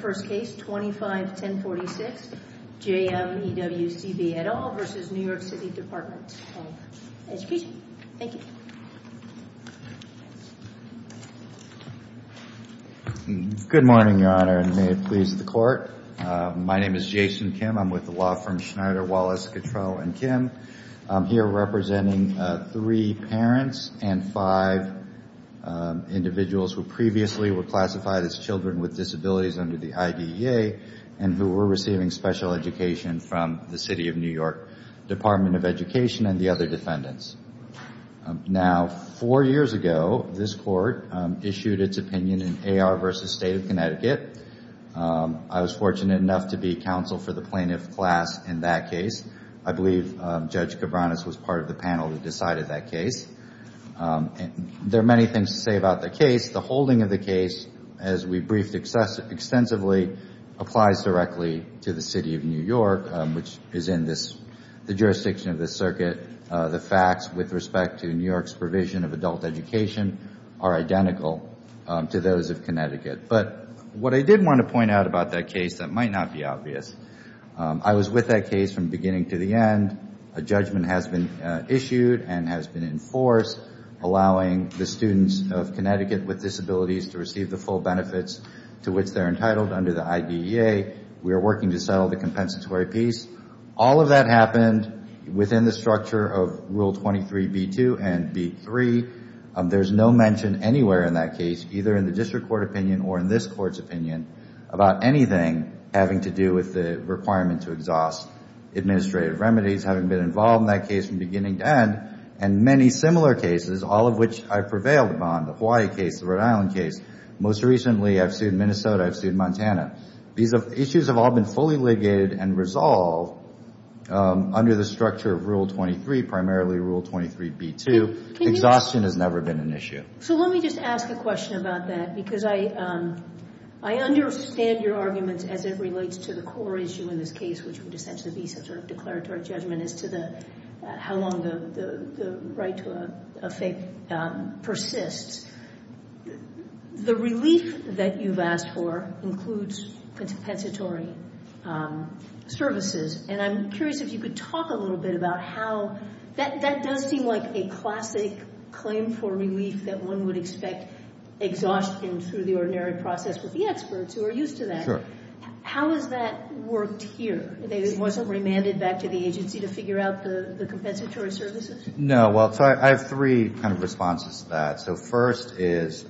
First Case 25-1046, J.M. E. W. C. V. et al. v. The New York City Department of Education. Thank you. Good morning, Your Honor, and may it please the Court. My name is Jason Kim. I'm with the law firms Schneider, Wallace, Gatreau, and Kim. I'm here representing three parents and five individuals who previously were classified as children with disabilities under the IDEA and who were receiving special education from the City of New York Department of Education and the other defendants. Now four years ago, this Court issued its opinion in A.R. v. State of Connecticut. I was fortunate enough to be counsel for the plaintiff class in that case. I believe Judge Cabranes was part of the panel who decided that case. There are many things to say about the case. The holding of the case, as we briefed extensively, applies directly to the City of New York, which is in the jurisdiction of this circuit. The facts with respect to New York's provision of adult education are identical to those of Connecticut. But what I did want to point out about that case that might not be obvious, I was with that case from beginning to the end. A judgment has been issued and has been enforced allowing the students of Connecticut with disabilities to receive the full benefits to which they're entitled under the IDEA. We are working to settle the compensatory piece. All of that happened within the structure of Rule 23b-2 and b-3. There's no mention anywhere in that case, either in the District Court opinion or in this Court's opinion, about anything having to do with the requirement to exhaust administrative remedies, having been involved in that case from beginning to end, and many similar cases, all of which I've prevailed upon, the Hawaii case, the Rhode Island case. Most recently, I've sued Minnesota, I've sued Montana. These issues have all been fully legated and resolved under the structure of Rule 23, primarily Rule 23b-2. Exhaustion has never been an issue. So let me just ask a question about that, because I understand your arguments as it relates to the core issue in this case, which would essentially be sort of declaratory judgment as to how long the right to a fake persists. The relief that you've asked for includes compensatory services, and I'm curious if you could talk a little bit about how that does seem like a classic claim for relief that one would expect exhaustion through the ordinary process with the experts who are used to that. Sure. How has that worked here? It wasn't remanded back to the agency to figure out the compensatory services? No. Well, I have three kind of responses to that. So first is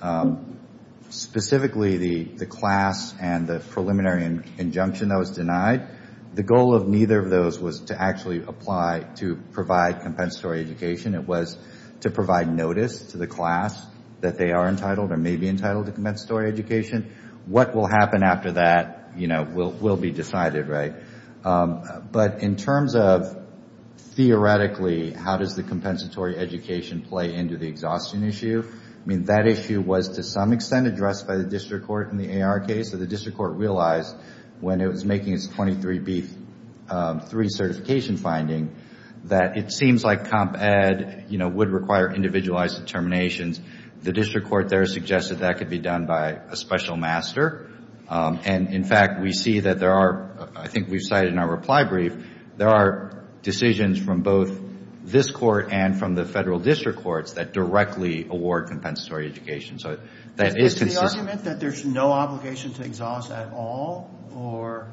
specifically the class and the preliminary injunction that was denied. The goal of neither of those was to actually apply to provide compensatory education. It was to provide notice to the class that they are entitled or may be entitled to compensatory education. What will happen after that will be decided, right? But in terms of theoretically, how does the compensatory education play into the exhaustion issue? I mean, that issue was to some extent addressed by the district court in the AR case, so the district court realized when it was making its 23B3 certification finding that it seems like comp ed would require individualized determinations. The district court there suggested that could be done by a special master. And in fact, we see that there are, I think we cited in our reply brief, there are decisions from both this court and from the federal district courts that directly award compensatory education. So that is consistent. Is the argument that there's no obligation to exhaust at all or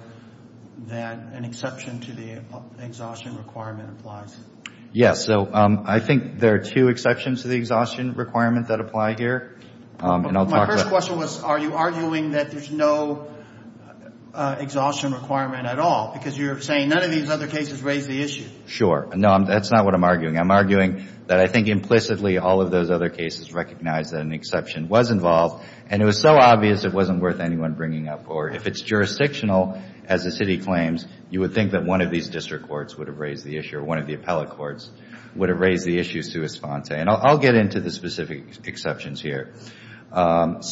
that an exception to the exhaustion requirement applies? Yes. So I think there are two exceptions to the exhaustion requirement that apply here. And I'll talk about... My first question was, are you arguing that there's no exhaustion requirement at all? Because you're saying none of these other cases raise the issue. Sure. No, that's not what I'm arguing. I'm arguing that I think implicitly all of those other cases recognize that an exception was involved and it was so obvious it wasn't worth anyone bringing up. Or if it's jurisdictional, as the city claims, you would think that one of these district courts would have raised the issue or one of the appellate courts would have raised the issue sui sponte. And I'll get into the specific exceptions here. But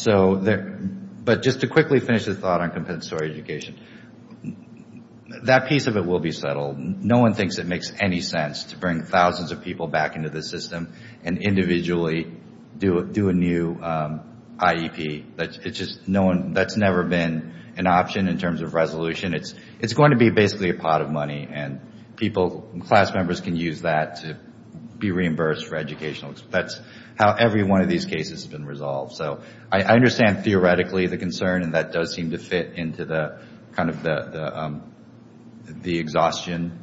just to quickly finish the thought on compensatory education, that piece of it will be settled. No one thinks it makes any sense to bring thousands of people back into the system and individually do a new IEP. That's never been an option in terms of resolution. It's going to be basically a pot of money and people, class members can use that to be reimbursed for educational. That's how every one of these cases has been resolved. So I understand theoretically the concern and that does seem to fit into the exhaustion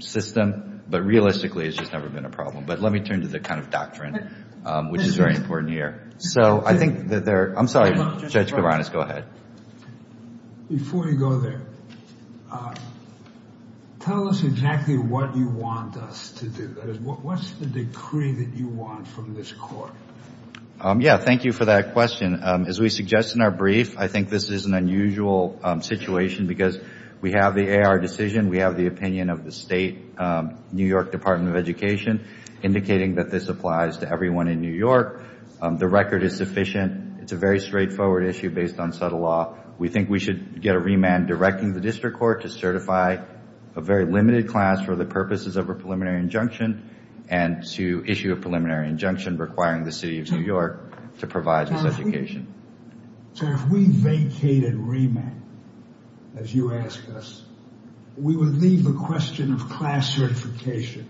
system. But realistically, it's just never been a problem. But let me turn to the kind of doctrine, which is very important here. So I think that there... I'm sorry. Judge Kovanes, go ahead. Before you go there, tell us exactly what you want us to do. What's the decree that you want from this court? Yeah, thank you for that question. As we suggest in our brief, I think this is an unusual situation because we have the AR decision. We have the opinion of the State New York Department of Education indicating that this applies to everyone in New York. The record is sufficient. It's a very straightforward issue based on subtle law. We think we should get a remand directing the district court to certify a very limited class for the purposes of a preliminary injunction and to issue a preliminary injunction requiring the City of New York to provide this education. So if we vacated remand, as you ask us, we would leave the question of class certification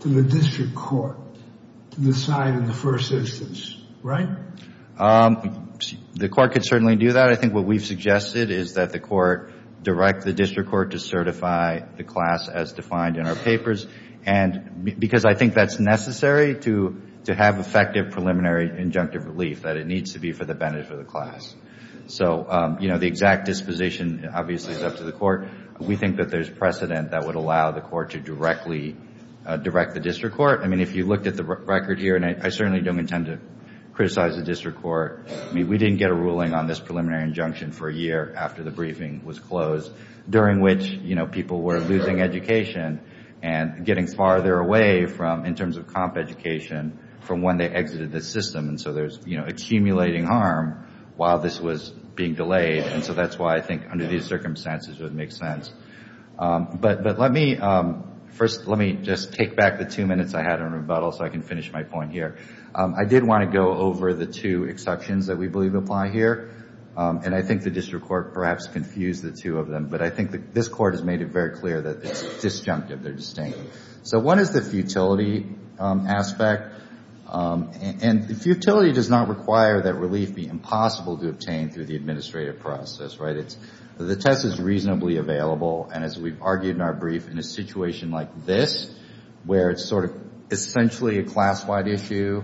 to the district court to decide in the first instance, right? The court could certainly do that. I think what we've suggested is that the court direct the district court to certify the class as defined in our papers because I think that's necessary to have effective preliminary injunctive relief, that it needs to be for the benefit of the class. So the exact disposition obviously is up to the court. We think that there's precedent that would allow the court to directly direct the district court. If you looked at the record here, and I certainly don't intend to criticize the district court, we didn't get a ruling on this preliminary injunction for a year after the briefing was closed during which people were losing education and getting farther away from, in terms of comp education, from when they exited the system. So there's accumulating harm while this was being delayed and so that's why I think under these circumstances it would make sense. But let me first, let me just take back the two minutes I had in rebuttal so I can finish my point here. I did want to go over the two exceptions that we believe apply here and I think the district court perhaps confused the two of them, but I think this court has made it very clear that it's disjunctive, they're distinct. So one is the futility aspect and the futility does not require that relief be impossible to obtain through the administrative process, right? The test is reasonably available and as we've argued in our brief, in a situation like this where it's sort of essentially a class-wide issue,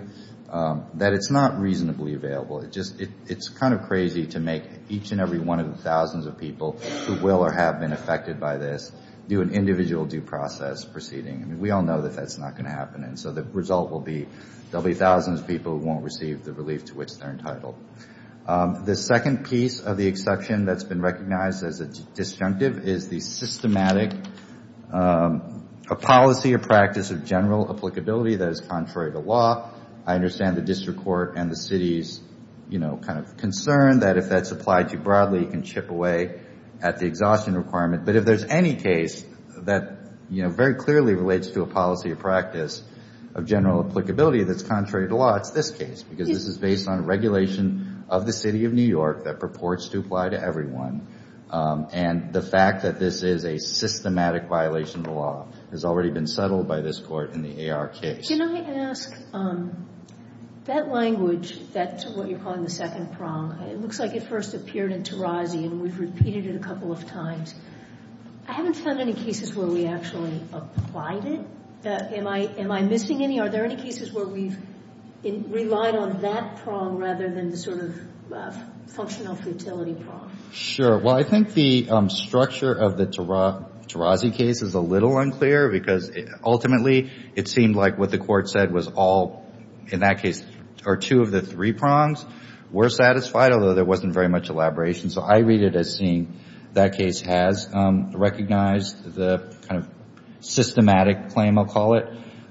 that it's not reasonably available. It's kind of crazy to make each and every one of the thousands of people who will or have been affected by this do an individual due process proceeding. We all know that that's not going to happen and so the result will be there'll be thousands of people who won't receive the relief to which they're entitled. The second piece of the exception that's been recognized as a disjunctive is the systematic policy or practice of general applicability that is contrary to law. I understand the district court and the city's, you know, kind of concern that if that's applied too broadly, it can chip away at the exhaustion requirement, but if there's any case that, you know, very clearly relates to a policy or practice of general applicability that's contrary to law, it's this case because this is based on regulation of the city of New York that purports to apply to everyone and the fact that this is a systematic violation of the law has already been settled by this court in the A.R. case. Can I ask, that language, that what you're calling the second prong, it looks like it first appeared in Tarazi and we've repeated it a couple of times. I haven't found any cases where we actually applied it. Am I missing any? Are there any cases where we've relied on that prong rather than the sort of functional futility prong? Sure. Well, I think the structure of the Tarazi case is a little unclear because ultimately it seemed like what the court said was all, in that case, or two of the three prongs were satisfied, although there wasn't very much elaboration. So I read it as seeing that case has recognized the kind of systematic claim, I'll call it.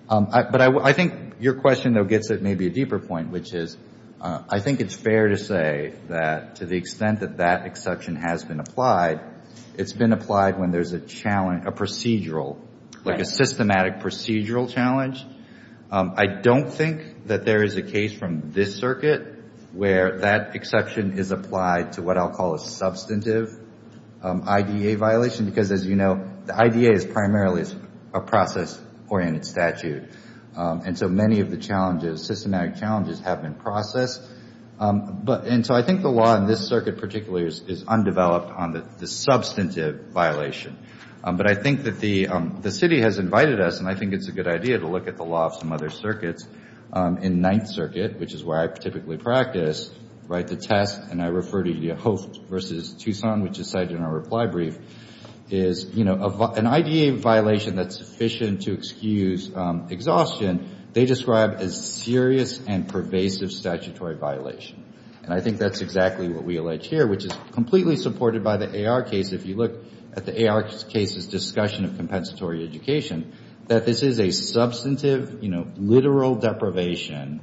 But I think your question, though, gets at maybe a deeper point, which is I think it's fair to say that to the extent that that exception has been applied, it's been applied when there's a challenge, a procedural, like a systematic procedural challenge. I don't think that there is a case from this circuit where that exception is applied to what I'll call a substantive IDA violation because, as you know, the IDA is primarily a process-oriented statute. And so many of the challenges, systematic challenges, have been processed. And so I think the law in this circuit particularly is undeveloped on the substantive violation. But I think that the city has invited us, and I think it's a good idea to look at the law of some other circuits. In Ninth Circuit, which is where I typically practice, right, the test, and I refer to the host versus Tucson, which is cited in our reply brief, is an IDA violation that's sufficient to excuse exhaustion, they describe as serious and pervasive statutory violation. And I think that's exactly what we allege here, which is completely supported by the AR case. If you look at the AR case's discussion of compensatory education, that this is a substantive, you know, literal deprivation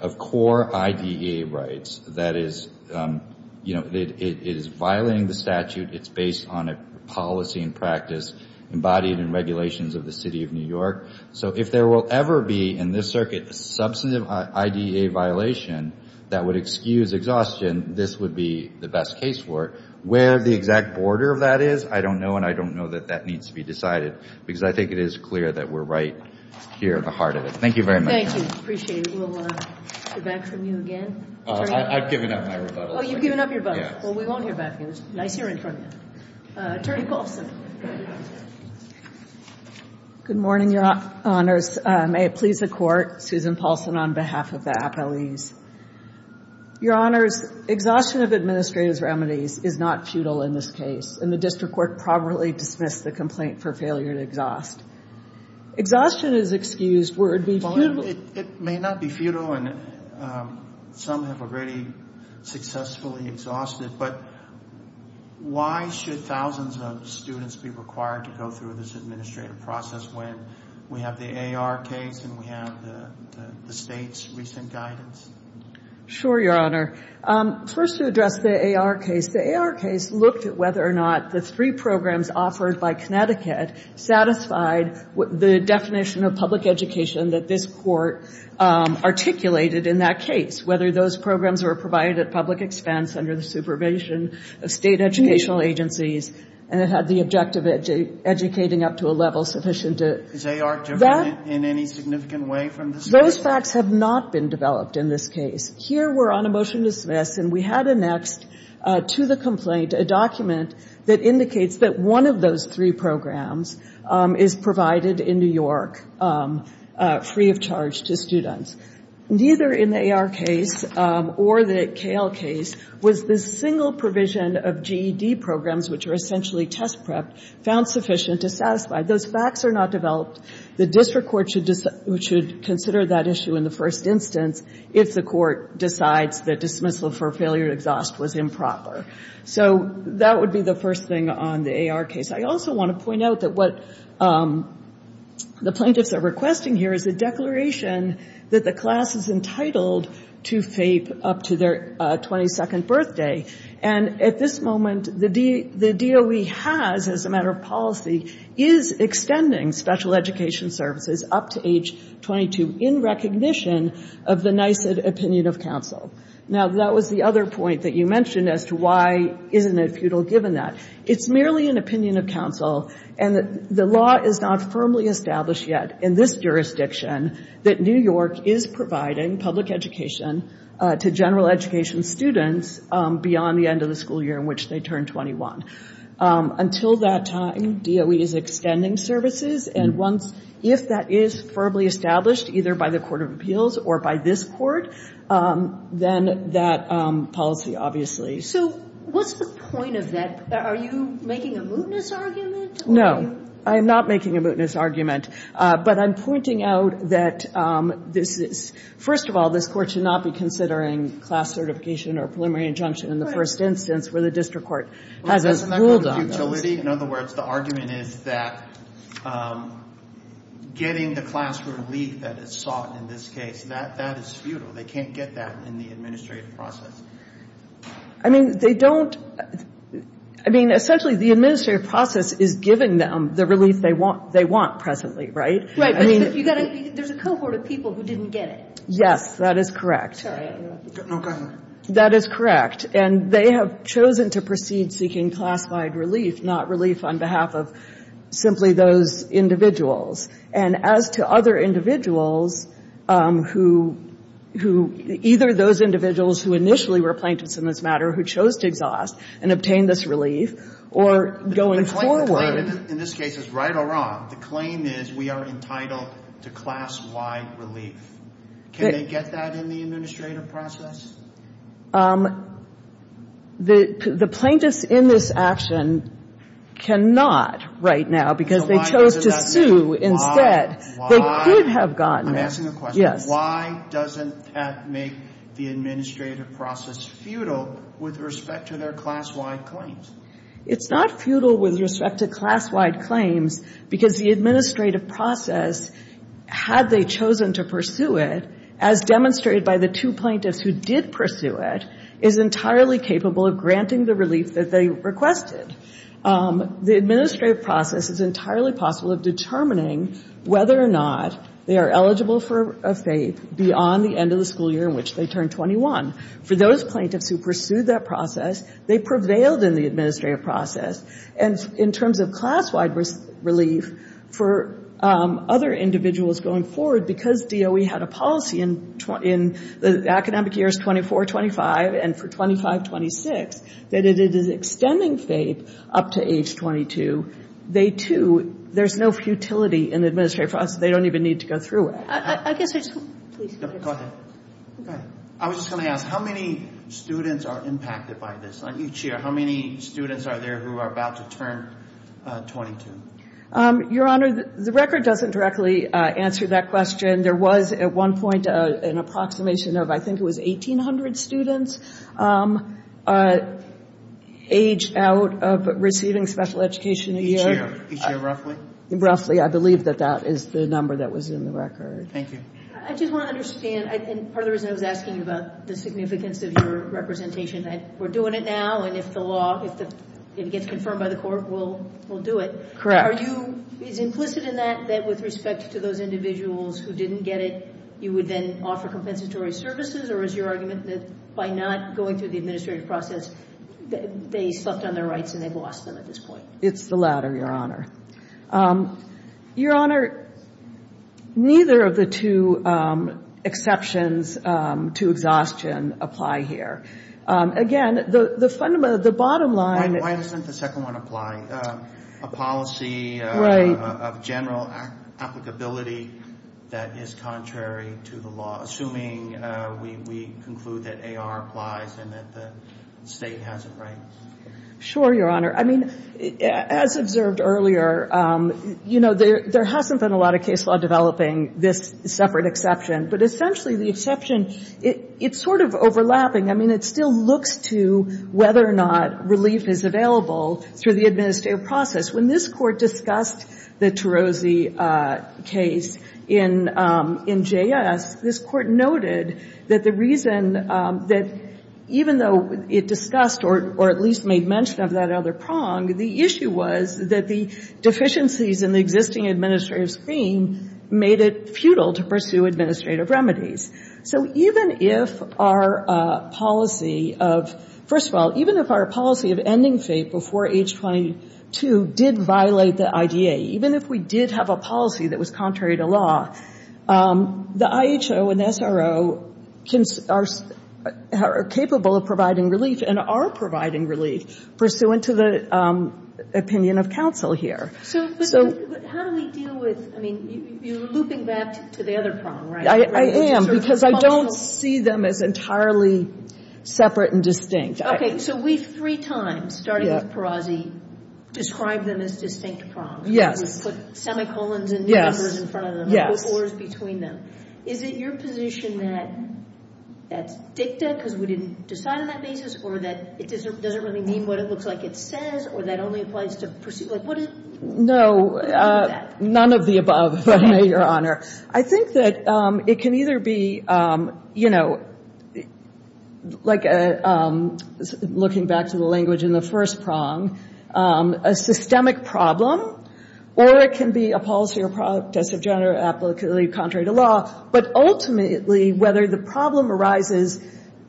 of core IDA rights. That is, you know, it is violating the statute, it's based on a policy and practice embodied in regulations of the City of New York. So if there will ever be, in this circuit, a substantive IDA violation that would excuse exhaustion, this would be the best case for it. Where the exact border of that is, I don't know, and I don't know that that needs to be decided, because I think it is clear that we're right here in the heart of it. Thank you very much. Thank you. Appreciate it. We'll hear back from you again. I've given up my rebuttal. Oh, you've given up your rebuttal. Yes. Well, we won't hear back from you. It was nice hearing from you. Attorney Paulson. Good morning, Your Honors. May it please the Court, Susan Paulson on behalf of the appellees. Your Honors, exhaustion of administrative remedies is not futile in this case, and the District Court properly dismissed the complaint for failure to exhaust. Exhaustion is excused where it would be futile. It may not be futile, and some have already successfully exhausted, but why should thousands of students be required to go through this administrative process when we have the A.R. case and we have the State's recent guidance? Sure, Your Honor. First, to address the A.R. case, the A.R. case looked at whether or not the three programs offered by Connecticut satisfied the definition of public education that this Court articulated in that case, whether those programs were provided at public expense under the supervision of State educational agencies and it had the objective of educating up to a level sufficient to Is A.R. different in any significant way from the State? Those facts have not been developed in this case. Here we're on a motion to dismiss, and we had annexed to the complaint a document that indicates that one of those three programs is provided in New York free of charge to students. Neither in the A.R. case or the K.L. case was the single provision of GED programs, which are essentially test prep, found sufficient to satisfy. Those facts are not developed. The district court should consider that issue in the first instance if the court decides that dismissal for failure to exhaust was improper. So that would be the first thing on the A.R. case. I also want to point out that what the plaintiffs are requesting here is a declaration that the class is entitled to FAPE up to their 22nd birthday. And at this moment, the DOE has, as a matter of policy, is extending special education services up to age 22 in recognition of the NYSED opinion of counsel. Now that was the other point that you mentioned as to why isn't it futile given that. It's merely an opinion of counsel, and the law is not firmly established yet in this jurisdiction that New York is providing public education to general education students, beyond the end of the school year in which they turn 21. Until that time, DOE is extending services, and if that is firmly established, either by the Court of Appeals or by this Court, then that policy, obviously. So what's the point of that? Are you making a mootness argument? No, I'm not making a mootness argument. But I'm pointing out that this is, first of all, this Court should not be considering class certification or preliminary injunction in the first instance where the district court has a rule on those. Well, isn't that kind of futility? In other words, the argument is that getting the class relief that is sought in this case, that is futile. They can't get that in the administrative process. I mean, they don't, I mean, essentially, the administrative process is giving them the relief they want presently, right? Right. But you've got to, there's a cohort of people who didn't get it. Yes. That is correct. I'm sorry. No, go ahead. That is correct. And they have chosen to proceed seeking class-wide relief, not relief on behalf of simply those individuals. And as to other individuals who, either those individuals who initially were plaintiffs in this matter who chose to exhaust and obtain this relief, or going forward. The claim in this case is, right or wrong, the claim is we are entitled to class-wide relief. Can they get that in the administrative process? The plaintiffs in this action cannot right now because they chose to sue instead. They could have gotten it. I'm asking a question. Yes. Why doesn't that make the administrative process futile with respect to their class-wide claims? It's not futile with respect to class-wide claims because the administrative process, had they chosen to pursue it, as demonstrated by the two plaintiffs who did pursue it, is entirely capable of granting the relief that they requested. The administrative process is entirely possible of determining whether or not they are eligible for a FAPE beyond the end of the school year in which they turn 21. For those plaintiffs who pursued that process, they prevailed in the administrative process. In terms of class-wide relief, for other individuals going forward, because DOE had a policy in the academic years 24-25, and for 25-26, that it is extending FAPE up to age 22, they too, there's no futility in the administrative process. They don't even need to go through it. I was just going to ask, how many students are impacted by this? On each year, how many students are there who are about to turn 22? Your Honor, the record doesn't directly answer that question. There was, at one point, an approximation of, I think it was 1,800 students age out of receiving special education a year. Each year? Each year, roughly? Roughly. I believe that that is the number that was in the record. Thank you. I just want to understand, and part of the reason I was asking about the significance of your representation, that we're doing it now, and if the law, if it gets confirmed by the court, we'll do it. Correct. Are you, is implicit in that, that with respect to those individuals who didn't get it, you would then offer compensatory services, or is your argument that by not going through the administrative process, they slept on their rights and they've lost them at this point? It's the latter, Your Honor. Your Honor, neither of the two exceptions to exhaustion apply here. Again, the fundamental, the bottom line... Why doesn't the second one apply? A policy of general applicability that is contrary to the law, assuming we conclude that AR applies and that the state has a right? Sure, Your Honor. I mean, as observed earlier, you know, there hasn't been a lot of case law developing this separate exception, but essentially, the exception, it's sort of overlapping. I mean, it still looks to whether or not relief is available through the administrative process. When this Court discussed the Tarozzi case in JS, this Court noted that the reason that it, even though it discussed or at least made mention of that other prong, the issue was that the deficiencies in the existing administrative scheme made it futile to pursue administrative remedies. So even if our policy of, first of all, even if our policy of ending fate before H-22 did violate the IDA, even if we did have a policy that was contrary to law, the IHO and SRO are capable of providing relief and are providing relief pursuant to the opinion of counsel here. So how do we deal with, I mean, you're looping back to the other prong, right? I am, because I don't see them as entirely separate and distinct. Okay, so we three times, starting with Tarozzi, described them as distinct prongs. Yes. We just put semicolons and numbers in front of them. Yes. Is it your position that that's dicta, because we didn't decide on that basis, or that it doesn't really mean what it looks like it says, or that only applies to pursuit? No, none of the above, Your Honor. I think that it can either be, you know, like looking back to the language in the first prong, a systemic problem, or it can be a policy or product test of general applicability contrary to law. But ultimately, whether the problem arises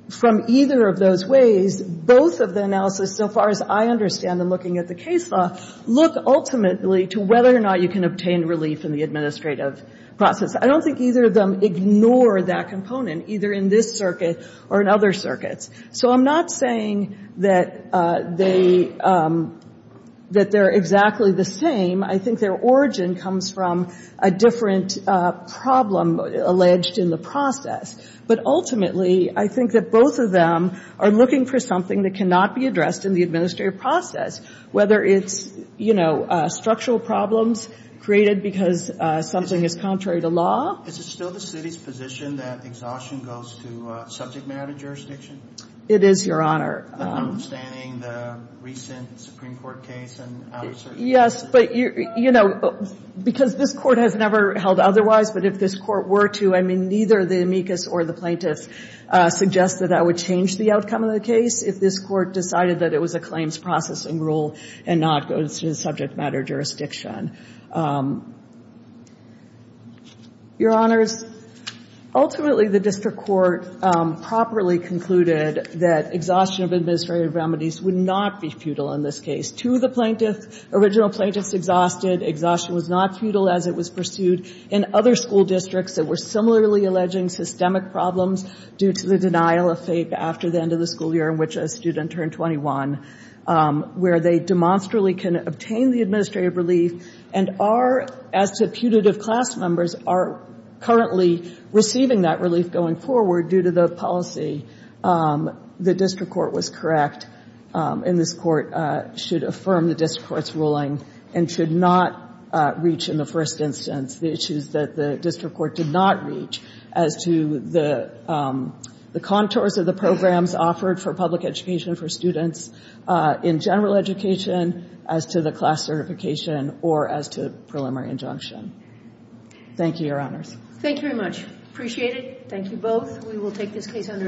from either of those ways, both of the analysis, so far as I understand them looking at the case law, look ultimately to whether or not you can obtain relief in the administrative process. I don't think either of them ignore that component, either in this circuit or in other circuits. So I'm not saying that they, that they're exactly the same. I think their origin comes from a different problem alleged in the process. But ultimately, I think that both of them are looking for something that cannot be addressed in the administrative process, whether it's, you know, structural problems created because something is contrary to law. Is it still the city's position that exhaustion goes to subject matter jurisdiction? It is, Your Honor. Understanding the recent Supreme Court case and other circumstances? Yes, but, you know, because this court has never held otherwise, but if this court were to, I mean, neither the amicus or the plaintiffs suggest that that would change the outcome of the case if this court decided that it was a claims processing rule and not goes to subject matter jurisdiction. Your Honors, ultimately, the district court properly concluded that exhaustion of administrative remedies would not be futile in this case. To the plaintiff, original plaintiffs exhausted, exhaustion was not futile as it was pursued in other school districts that were similarly alleging systemic problems due to the denial of FAPE after the end of the school year in which a student turned 21, where they demonstrably can obtain the administrative relief and are, as to putative class members, are currently receiving that relief going forward due to the policy. The district court was correct, and this court should affirm the district court's ruling and should not reach, in the first instance, the issues that the district court did not reach as to the contours of the programs offered for public education for students in general education as to the class certification or as to preliminary injunction. Thank you, Your Honors. Thank you very much. Appreciate it. Thank you both. We will take this case under advisement.